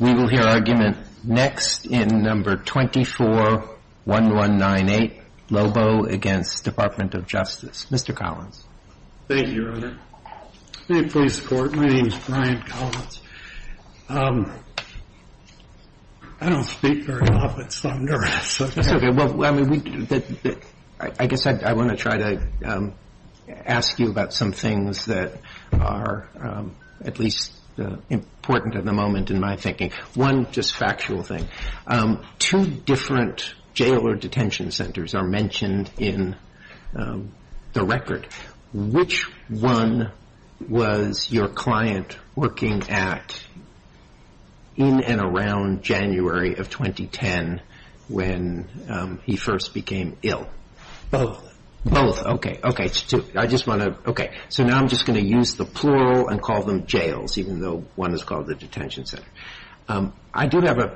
We will hear argument next in No. 24-1198, Lobo against Department of Justice. Mr. Collins. Thank you, Your Honor. May it please the Court, my name is Brian Collins. I don't speak very often, so I'm nervous. I guess I want to try to ask you about some things that are at least important at the moment in my thinking. One just factual thing, two different jail or detention centers are mentioned in the record. Which one was your client working at in and around January of 2010 when he first became ill? Both. Both, okay. Okay, so now I'm just going to use the plural and call them jails, even though one is called a detention center. I do have an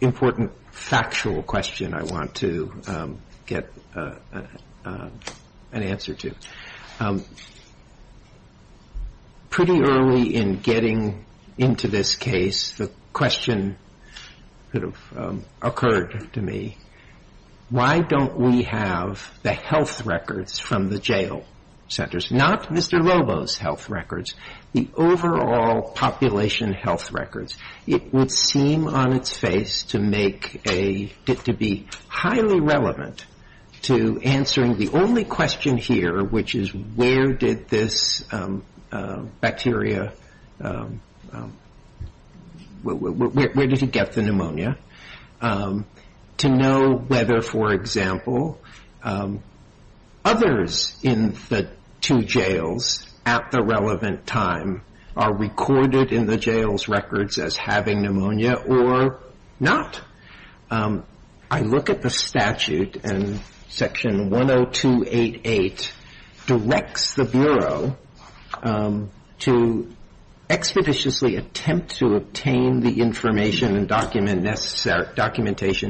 important factual question I want to get an answer to. Pretty early in getting into this case, the question that occurred to me, why don't we have the health records from the jail centers, not Mr. Lobo's health records, the overall population health records. It would seem on its face to make a, to be highly relevant to answering the only question here, which is where did this bacteria, where did he get the pneumonia, to know whether, for example, others in the two jails at the relevant time are recorded in the jails records as having pneumonia or not. I look at the statute and section 10288 directs the bureau to expeditiously attempt to obtain the information and documentation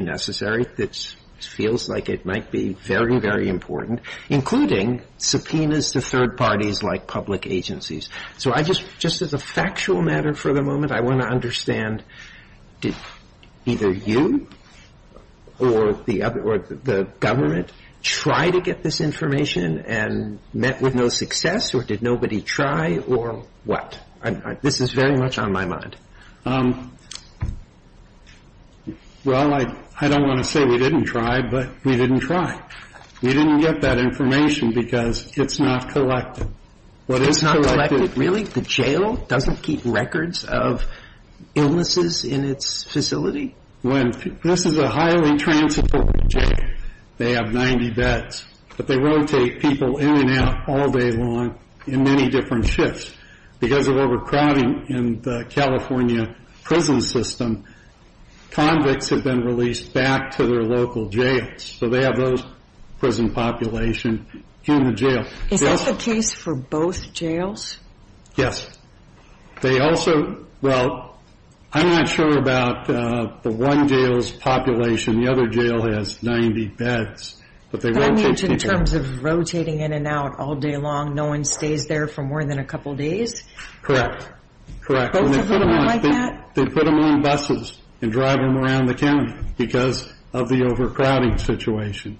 necessary, which feels like it might be very, very important, including subpoenas to third parties like public agencies. So I just, just as a factual matter for the moment, I want to understand, did either you or the government try to get this information and met with no success, or did nobody try, or what? This is very much on my mind. Well, I don't want to say we didn't try, but we didn't try. We didn't get that information because it's not collected. What is collected? The jail doesn't keep records of illnesses in its facility? When, this is a highly trans-supported jail. They have 90 beds, but they rotate people in and out all day long in many different shifts because of overcrowding in the California prison system, convicts have been released back to their local jails. So they have those prison population in the jail. Is this the case for both jails? Yes. They also, well, I'm not sure about the one jail's population. The other jail has 90 beds, but they rotate people. But I imagine in terms of rotating in and out all day long, no one stays there for more than a couple of days? Both of them are like that? They put them on buses and drive them around the county because of the overcrowding situation.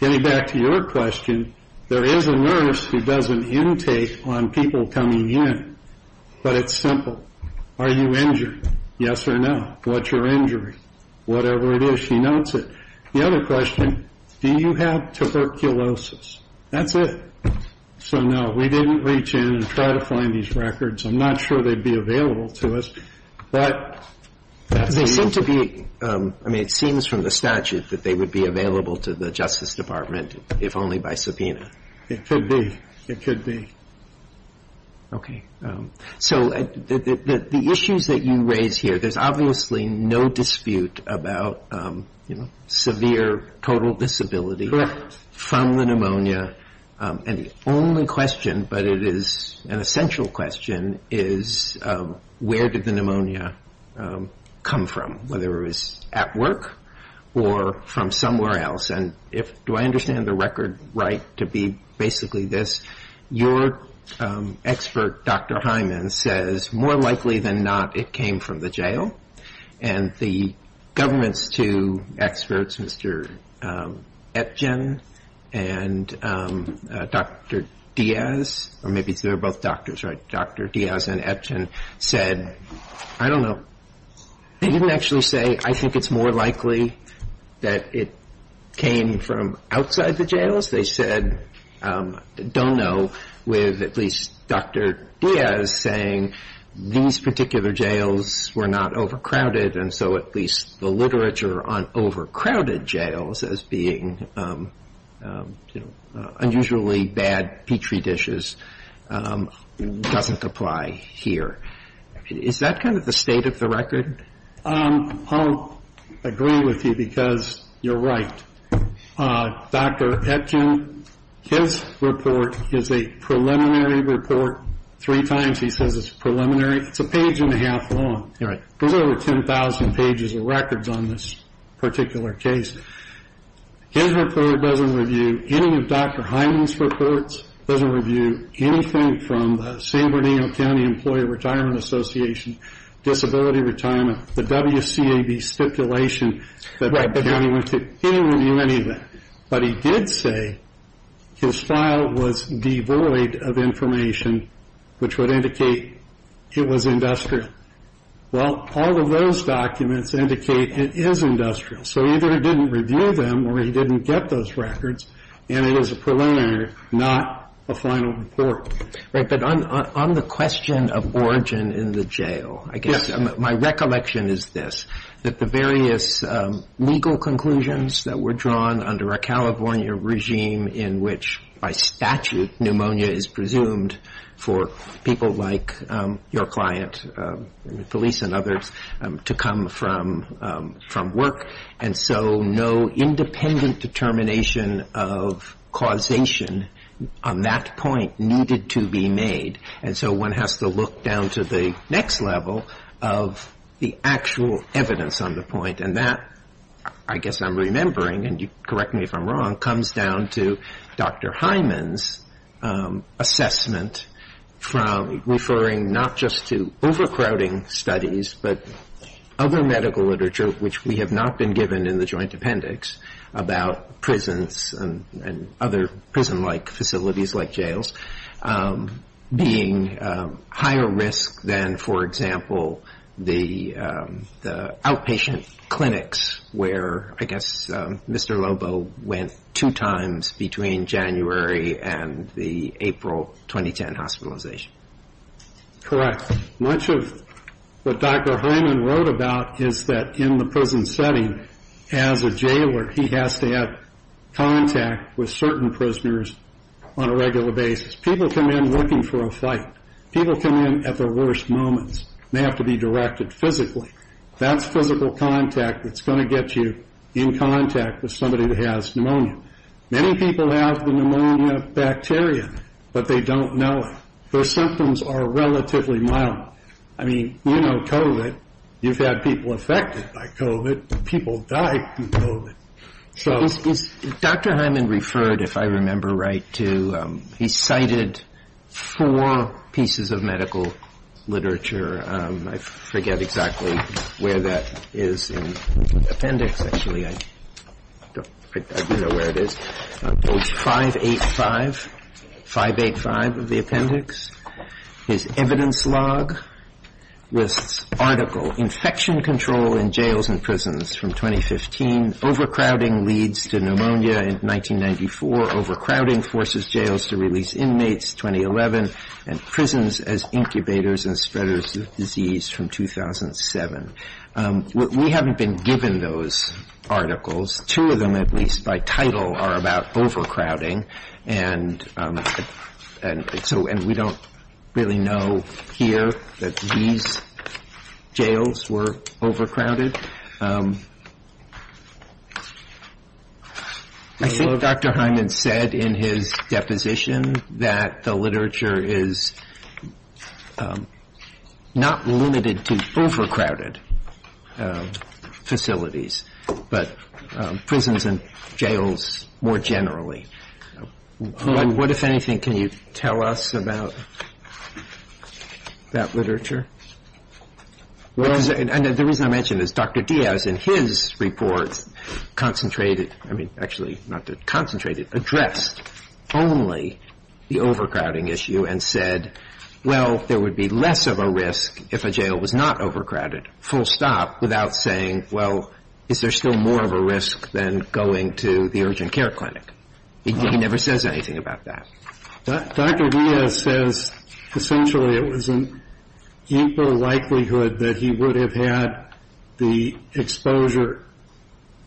Getting back to your question, there is a nurse who does an intake on people coming in, but it's simple. Are you injured? Yes or no? What's your injury? Whatever it is, she notes it. The other question, do you have tuberculosis? That's it. So no, we didn't reach in and try to find these records. I'm not sure they'd be available to us. But they seem to be. I mean, it seems from the statute that they would be available to the Justice Department if only by subpoena. It could be. It could be. OK, so the issues that you raise here, there's obviously no dispute about, you know, severe total disability from the pneumonia. And the only question, but it is an essential question, is where did the pneumonia come from, whether it was at work or from somewhere else? And do I understand the record right to be basically this? Your expert, Dr. Hyman, says more likely than not, it came from the jail. And the government's two experts, Mr. Etgen and Dr. Diaz, or maybe they're both doctors, right? Dr. Diaz and Etgen said, I don't know. They didn't actually say, I think it's more likely that it came from outside the jails. They said, don't know, with at least Dr. Diaz saying these particular jails were not overcrowded. And so at least the literature on overcrowded jails as being, you know, unusually bad petri dishes doesn't apply here. Is that kind of the state of the record? I'll agree with you because you're right. Dr. Etgen, his report is a preliminary report. Three times he says it's preliminary. It's a page and a half long. There's over 10,000 pages of records on this particular case. His report doesn't review any of Dr. Hyman's reports, doesn't review anything from the San Bernardino County Employee Retirement Association, Disability Retirement, the WCAB stipulation, but he didn't review any of that. But he did say his file was devoid of information, which would indicate it was industrial. Well, all of those documents indicate it is industrial. So either he didn't review them or he didn't get those records. And it is a preliminary, not a final report. Right. But on the question of origin in the jail, I guess my recollection is this, that the various legal conclusions that were drawn under a California regime in which by statute pneumonia is presumed for people like your client, Felice and others, to come from from work. And so no independent determination of causation on that point needed to be made. And so one has to look down to the next level of the actual evidence on the point. And that, I guess I'm remembering and you correct me if I'm wrong, comes down to Dr. Hyman's assessment from referring not just to overcrowding studies, but other medical literature, which we have not been given in the joint appendix about prisons and other prison like facilities like jails being higher risk than, for example, the outpatient clinics where I guess Mr. Lobo went two times between January and the April 2010 hospitalization. Correct. Much of what Dr. Hyman wrote about is that in the prison setting, as a jailor, he has to have contact with certain prisoners on a regular basis. People come in looking for a fight. People come in at the worst moments. They have to be directed physically. That's physical contact that's going to get you in contact with somebody that has pneumonia. Many people have the pneumonia bacteria, but they don't know it. Their symptoms are relatively mild. I mean, you know, COVID, you've had people affected by COVID. People die from COVID. So Dr. Hyman referred, if I remember right, to he cited four pieces of medical literature. I forget exactly where that is in the appendix. Actually, I don't know where it is. Page 585, 585 of the appendix. His evidence log lists article infection control in jails and prisons from 2015. Overcrowding leads to pneumonia in 1994. Overcrowding forces jails to release inmates. 2011 and prisons as incubators and spreaders of disease from 2007. We haven't been given those articles. Two of them, at least by title, are about overcrowding. And so and we don't really know here that these jails were overcrowded. I think Dr. Hyman said in his deposition that the literature is not limited to overcrowded facilities, but prisons and jails more generally. What, if anything, can you tell us about that literature? Well, the reason I mention this, Dr. Diaz in his report concentrated, I mean, actually not concentrated, addressed only the overcrowding issue and said, well, there would be less of a risk if a jail was not overcrowded, full stop, without saying, well, is there still more of a risk than going to the urgent care clinic? He never says anything about that. Dr. Diaz says essentially it was an equal likelihood that he would have had the exposure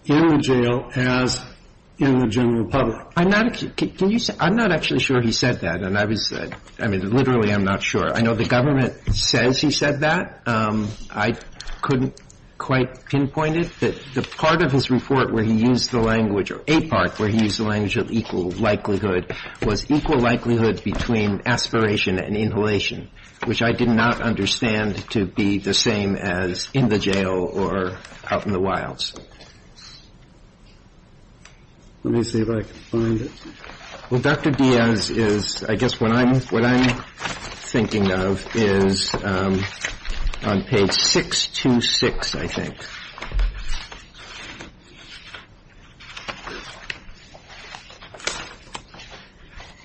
in the jail as in the general public. I'm not, can you say, I'm not actually sure he said that. And I was, I mean, literally I'm not sure. I know the government says he said that. I couldn't quite pinpoint it, but the part of his report where he used the language of APARC, where he used the language of equal likelihood, was equal likelihood between aspiration and inhalation, which I did not understand to be the same as in the jail or out in the wilds. Let me see if I can find it. Well, Dr. Diaz is, I guess what I'm thinking of is on page 626, I think.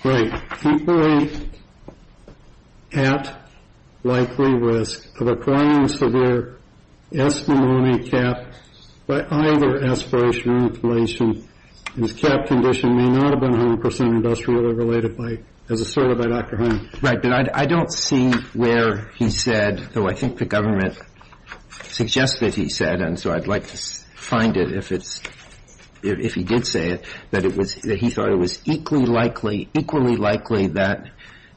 Right. Equally at likely risk of acquiring severe S-pneumonia cap by either aspiration or inhalation. His cap condition may not have been 100% industrially related by, as asserted by Dr. Honey. But I don't see where he said, though I think the government suggests that he said, and so I'd like to find it if it's, if he did say it, that it was, that he thought it was equally likely, equally likely that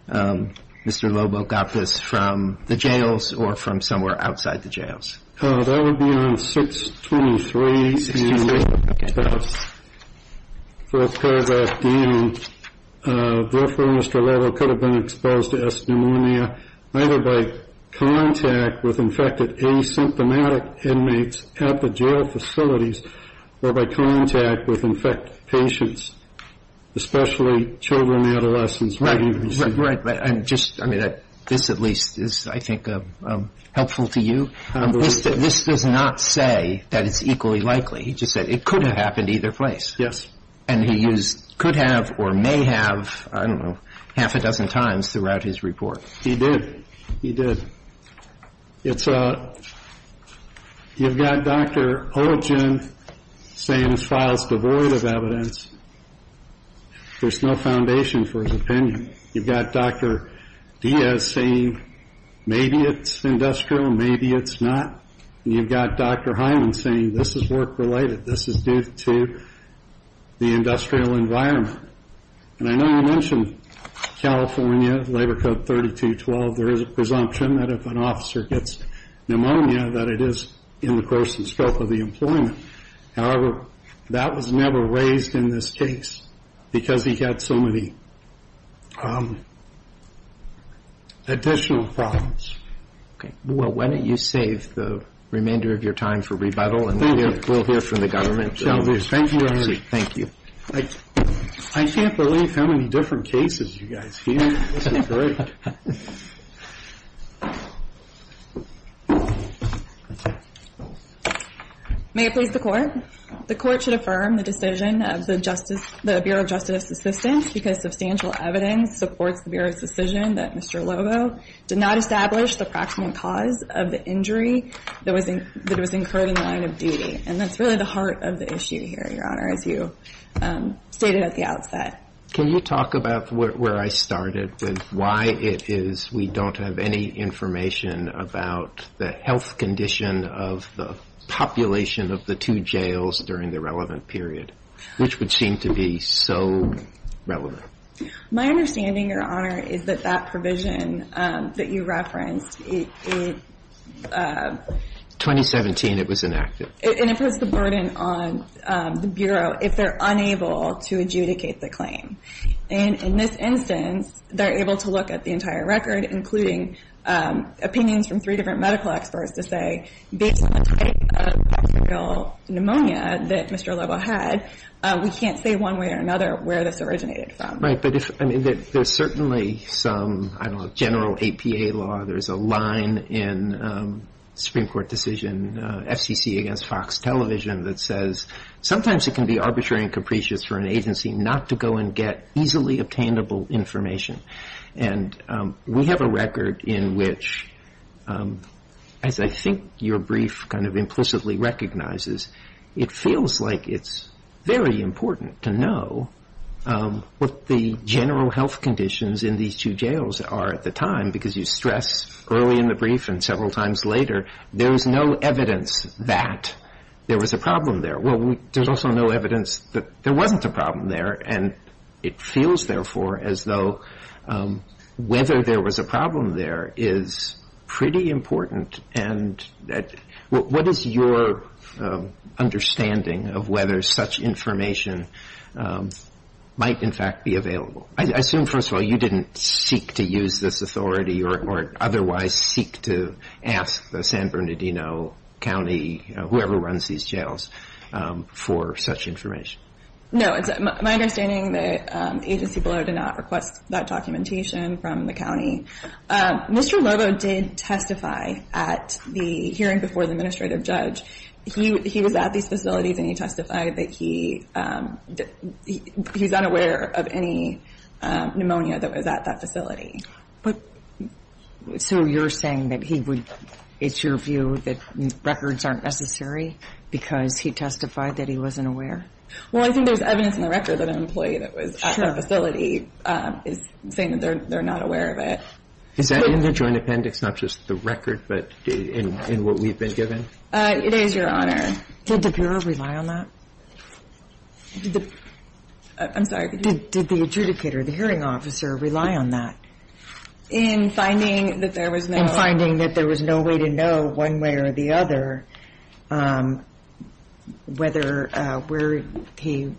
Mr. Lobo got this from the jails or from somewhere outside the jails. That would be on 623. Fourth paragraph, Dean. Therefore, Mr. Lobo could have been exposed to S-pneumonia either by contact with infected asymptomatic inmates at the jail facilities or by contact with infected patients, especially children and adolescents. I'm just, I mean, this at least is, I think, helpful to you. This does not say that it's equally likely. He just said it could have happened either place. Yes. And he used could have or may have, I don't know, half a dozen times throughout his report. He did. He did. It's, you've got Dr. Olgin saying his file's devoid of evidence. There's no foundation for his opinion. You've got Dr. Diaz saying maybe it's industrial, maybe it's not. You've got Dr. Hyman saying this is work-related, this is due to the industrial environment. And I know you mentioned California, Labor Code 3212. There is a presumption that if an officer gets pneumonia, that it is in the course and scope of the employment. However, that was never raised in this case because he had so many additional problems. Okay. Well, why don't you save the remainder of your time for rebuttal and we'll hear from the government. Thank you very much. Thank you. I can't believe how many different cases you guys hear. This is great. May it please the Court. The Court should affirm the decision of the Bureau of Justice Assistance because substantial evidence supports the Bureau's decision that Mr. Lobo did not establish the proximate cause of the injury that was incurred in the line of duty. And that's really the heart of the issue here, Your Honor, as you stated at the outset. Can you talk about where I started with why it is we don't have any information about the health condition of the population of the two jails during the relevant period, which would seem to be so relevant? My understanding, Your Honor, is that that provision that you referenced in 2017, it was enacted. And it puts the burden on the Bureau if they're unable to adjudicate the claim. And in this instance, they're able to look at the entire record, including opinions from three different medical experts to say, based on the type of bacterial pneumonia that Mr. Lobo had, we can't say one way or another where this originated from. Right. But there's certainly some, I don't know, general APA law. There's a line in Supreme Court decision FCC against Fox Television that says, sometimes it can be arbitrary and capricious for an agency not to go and get easily obtainable information. And we have a record in which, as I think your brief kind of implicitly recognizes, it feels like it's very important to know what the general health conditions in these two jails are at the time. Because you stress early in the brief and several times later, there is no evidence that there was a problem there. Well, there's also no evidence that there wasn't a problem there. And it feels, therefore, as though whether there was a problem there is pretty important. And what is your understanding of whether such information might, in fact, be available? I assume, first of all, you didn't seek to use this authority or otherwise seek to ask the San Bernardino County, whoever runs these jails, for such information. No, it's my understanding that the agency below did not request that documentation from the county. Mr. Lobo did testify at the hearing before the administrative judge. He was at these facilities and he testified that he was unaware of any pneumonia that was at that facility. So you're saying that he would – it's your view that records aren't necessary because he testified that he wasn't aware? Well, I think there's evidence in the record that an employee that was at the facility is saying that they're not aware of it. Is that in the joint appendix, not just the record, but in what we've been given? It is, Your Honor. Did the bureau rely on that? I'm sorry. Did the adjudicator, the hearing officer, rely on that? In finding that there was no – In finding that there was no way to know one way or the other whether – where he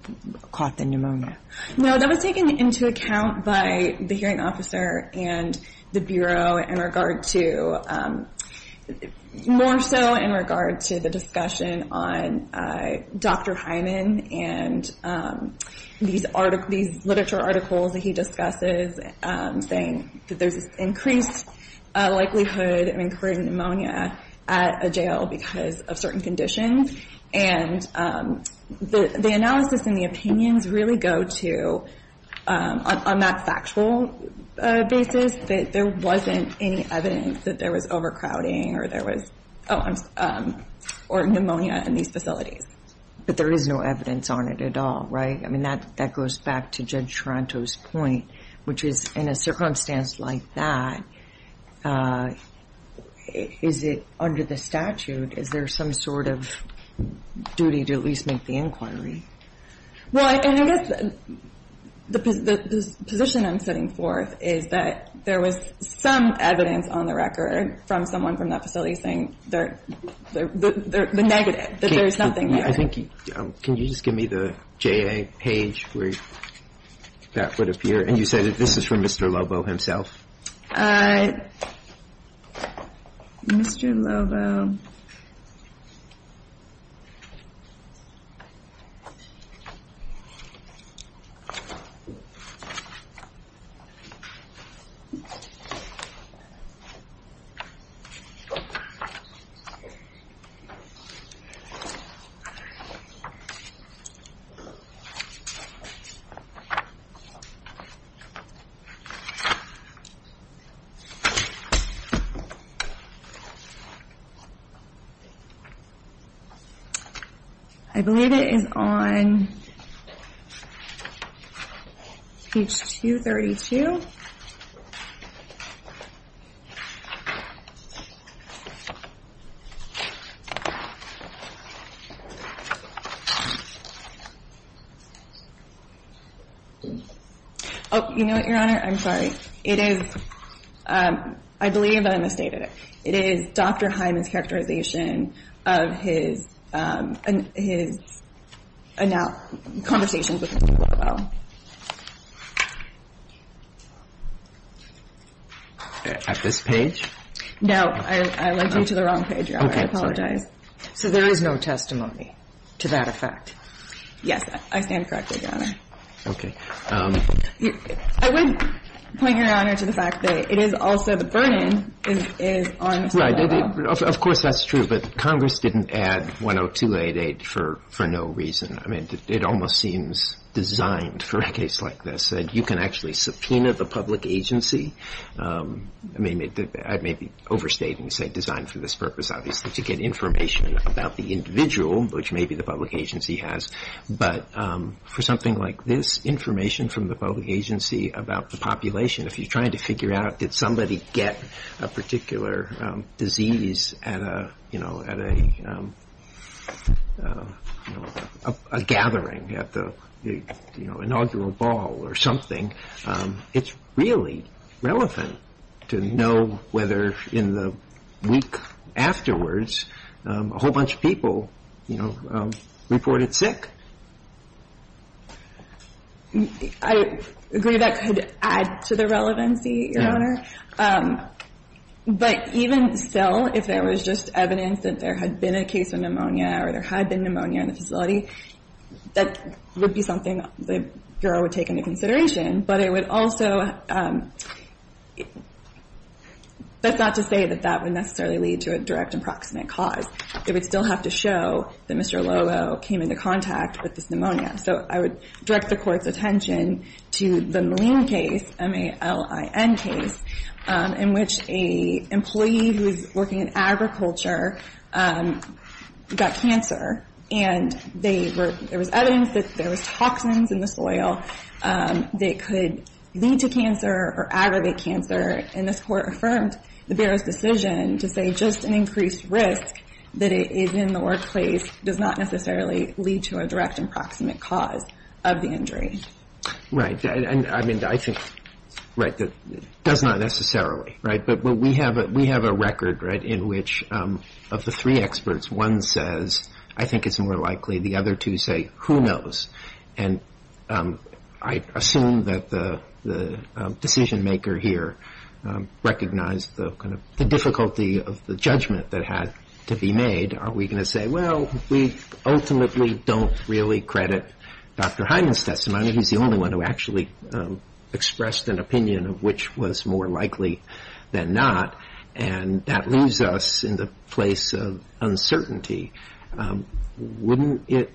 caught the pneumonia. No, that was taken into account by the hearing officer and the bureau in regard to – more so in regard to the discussion on Dr. Hyman and these literature articles that he discusses saying that there's an increased likelihood of incurring pneumonia at a jail because of certain conditions. And the analysis and the opinions really go to, on that factual basis, that there wasn't any evidence that there was overcrowding or there was – or pneumonia in these facilities. But there is no evidence on it at all, right? I mean, that goes back to Judge Taranto's point, which is in a circumstance like that, is it under the statute, is there some sort of duty to at least make the inquiry? Well, and I guess the position I'm setting forth is that there was some evidence on the record from someone from that facility saying the negative, that there's nothing there. Can you just give me the JA page where that would appear? And you said that this is from Mr. Lobo himself. Mr. Lobo. I believe it is on page 232. Oh, you know what, Your Honor? I'm sorry. It is – I believe I misstated it. It is Dr. Hyman's characterization of his conversations with Mr. Lobo. At this page? No. I led you to the wrong page, Your Honor. I apologize. So there is no testimony to that effect? Yes. I stand corrected, Your Honor. Okay. I would point, Your Honor, to the fact that it is also the burden is on Mr. Lobo. Right. Of course that's true, but Congress didn't add 102-88 for no reason. I mean, it almost seems designed for a case like this, that you can actually subpoena the public agency. I mean, I may be overstating and say designed for this purpose, obviously, to get information about the individual, which maybe the public agency has. But for something like this, information from the public agency about the population, if you're trying to figure out did somebody get a particular disease at a gathering, at the inaugural ball or something, it's really relevant to know whether in the week afterwards a whole bunch of people reported sick. I agree that could add to the relevancy, Your Honor. But even still, if there was just evidence that there had been a case of pneumonia or there had been pneumonia in the facility, that would be something the Bureau would take into consideration. But it would also – that's not to say that that would necessarily lead to a direct and proximate cause. It would still have to show that Mr. Lovo came into contact with this pneumonia. So I would direct the Court's attention to the Malin case, M-A-L-I-N case, in which an employee who was working in agriculture got cancer. And there was evidence that there was toxins in the soil that could lead to cancer or aggravate cancer. And this Court affirmed the Bureau's decision to say just an increased risk that is in the workplace does not necessarily lead to a direct and proximate cause of the injury. Right. I mean, I think – right, does not necessarily, right? But we have a record, right, in which of the three experts, one says I think it's more likely the other two say who knows. And I assume that the decision-maker here recognized the difficulty of the judgment that had to be made. Are we going to say, well, we ultimately don't really credit Dr. Hyman's testimony? He's the only one who actually expressed an opinion of which was more likely than not. And that leaves us in the place of uncertainty. Wouldn't it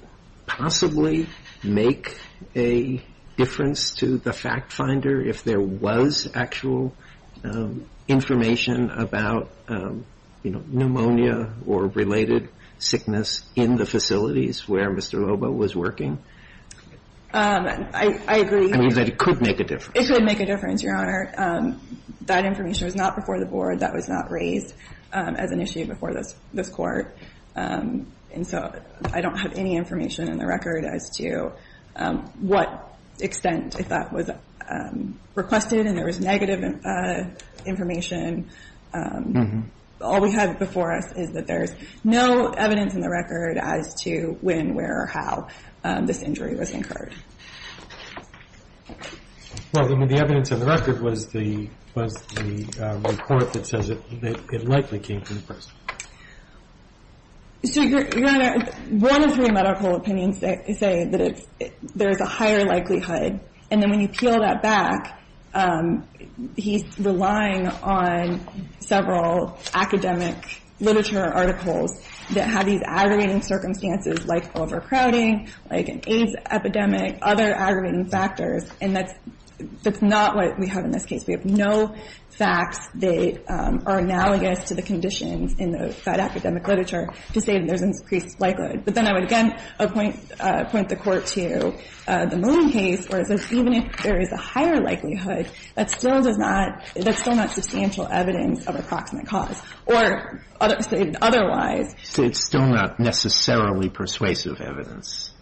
possibly make a difference to the fact-finder if there was actual information about, you know, pneumonia or related sickness in the facilities where Mr. Lobo was working? I agree. I mean, that it could make a difference. It could make a difference, Your Honor. That information was not before the Board. That was not raised as an issue before this Court. And so I don't have any information in the record as to what extent, if that was requested and there was negative information. All we have before us is that there's no evidence in the record as to when, where, or how this injury was incurred. Well, I mean, the evidence in the record was the report that says it likely came from the person. So, Your Honor, one of three medical opinions say that there's a higher likelihood. And then when you peel that back, he's relying on several academic literature articles that have these aggravating circumstances like overcrowding, like an AIDS epidemic, other aggravating factors, and that's not what we have in this case. We have no facts that are analogous to the conditions in the Fed academic literature to say that there's an increased likelihood. But then I would again point the Court to the Moon case, where it says even if there is a higher likelihood, that still does not – that's still not substantial evidence of approximate cause. Or otherwise – It's still not necessarily persuasive evidence.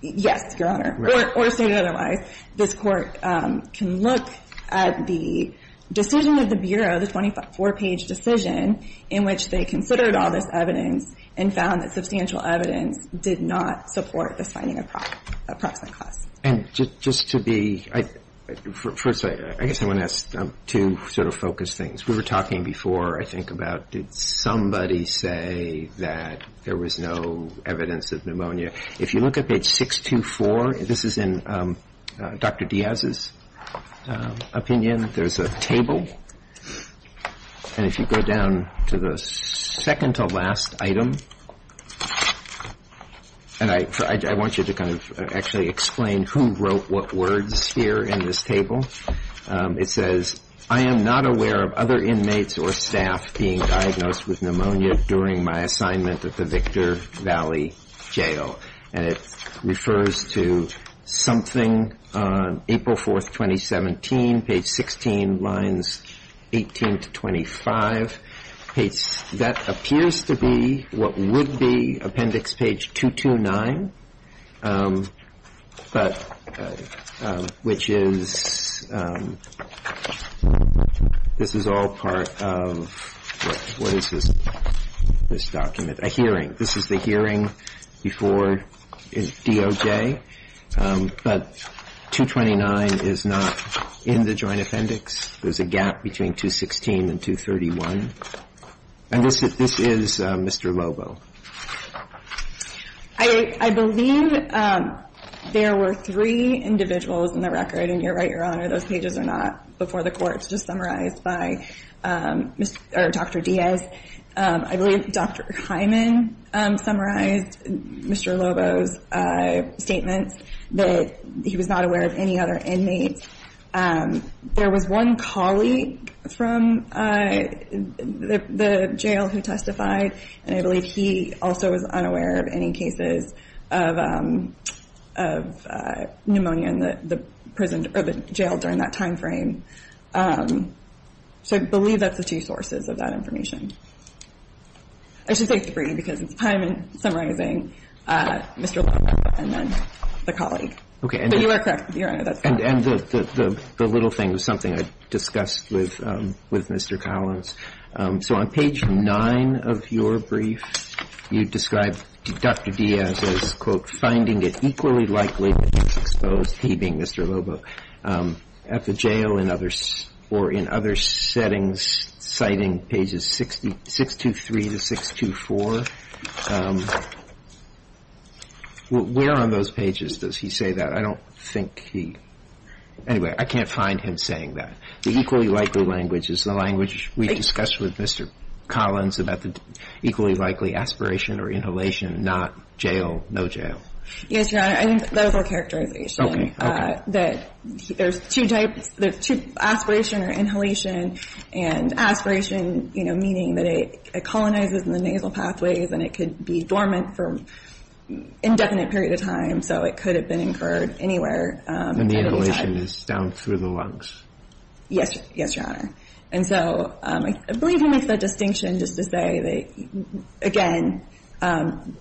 Yes, Your Honor. Or stated otherwise, this Court can look at the decision of the Bureau, the 24-page decision in which they considered all this evidence and found that substantial evidence did not support this finding of approximate cause. And just to be – first, I guess I want to ask two sort of focused things. We were talking before, I think, about did somebody say that there was no evidence of pneumonia. If you look at page 624, this is in Dr. Diaz's opinion, there's a table. And if you go down to the second-to-last item, and I want you to kind of actually explain who wrote what words here in this table, it says, I am not aware of other inmates or staff being diagnosed with pneumonia during my assignment at the Victor Valley Jail. And it refers to something on April 4th, 2017, page 16, lines 18 to 25. That appears to be what would be appendix page 229, but – which is – this is all part of – what is this document? A hearing. This is the hearing before DOJ. But 229 is not in the joint appendix. There's a gap between 216 and 231. And this is Mr. Lobo. I believe there were three individuals in the record, and you're right, Your Honor, those pages are not before the courts, just summarized by Dr. Diaz. I believe Dr. Hyman summarized Mr. Lobo's statements that he was not aware of any other inmates. There was one colleague from the jail who testified, and I believe he also was unaware of any cases of pneumonia in the prison – or the jail during that timeframe. So I believe that's the two sources of that information. I should say three because it's Hyman summarizing Mr. Lobo and then the colleague. But you are correct, Your Honor. And the little thing was something I discussed with Mr. Collins. So on page 9 of your brief, you describe Dr. Diaz as, quote, finding it equally likely that he was exposed, he being Mr. Lobo, at the jail or in other settings citing pages 623 to 624. Where on those pages does he say that? I don't think he – anyway, I can't find him saying that. The equally likely language is the language we discussed with Mr. Collins about the equally likely aspiration or inhalation, not jail, no jail. Yes, Your Honor. I think that was our characterization. Okay. Okay. That there's two types – there's two – aspiration or inhalation. And aspiration, you know, meaning that it colonizes the nasal pathways and it could be dormant for an indefinite period of time, so it could have been incurred anywhere. And inhalation is down through the lungs. Yes, Your Honor. And so I believe he makes that distinction just to say that, again,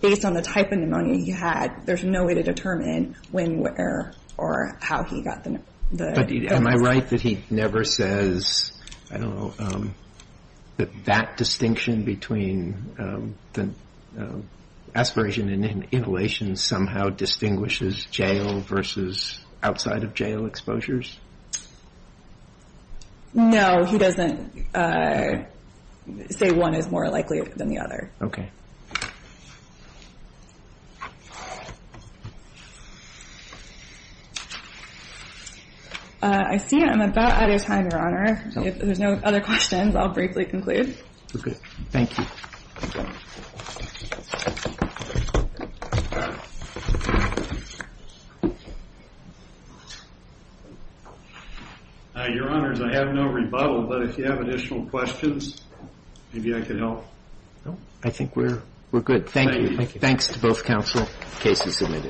based on the type of pneumonia he had, there's no way to determine when, where, or how he got the – But am I right that he never says, I don't know, that that distinction between aspiration and inhalation somehow distinguishes jail versus outside of jail exposures? No, he doesn't say one is more likely than the other. Okay. I see I'm about out of time, Your Honor. If there's no other questions, I'll briefly conclude. Okay. Thank you. Your Honors, I have no rebuttal, but if you have additional questions, maybe I can help. I think we're good. Thank you. Thanks to both counsel. The case is submitted.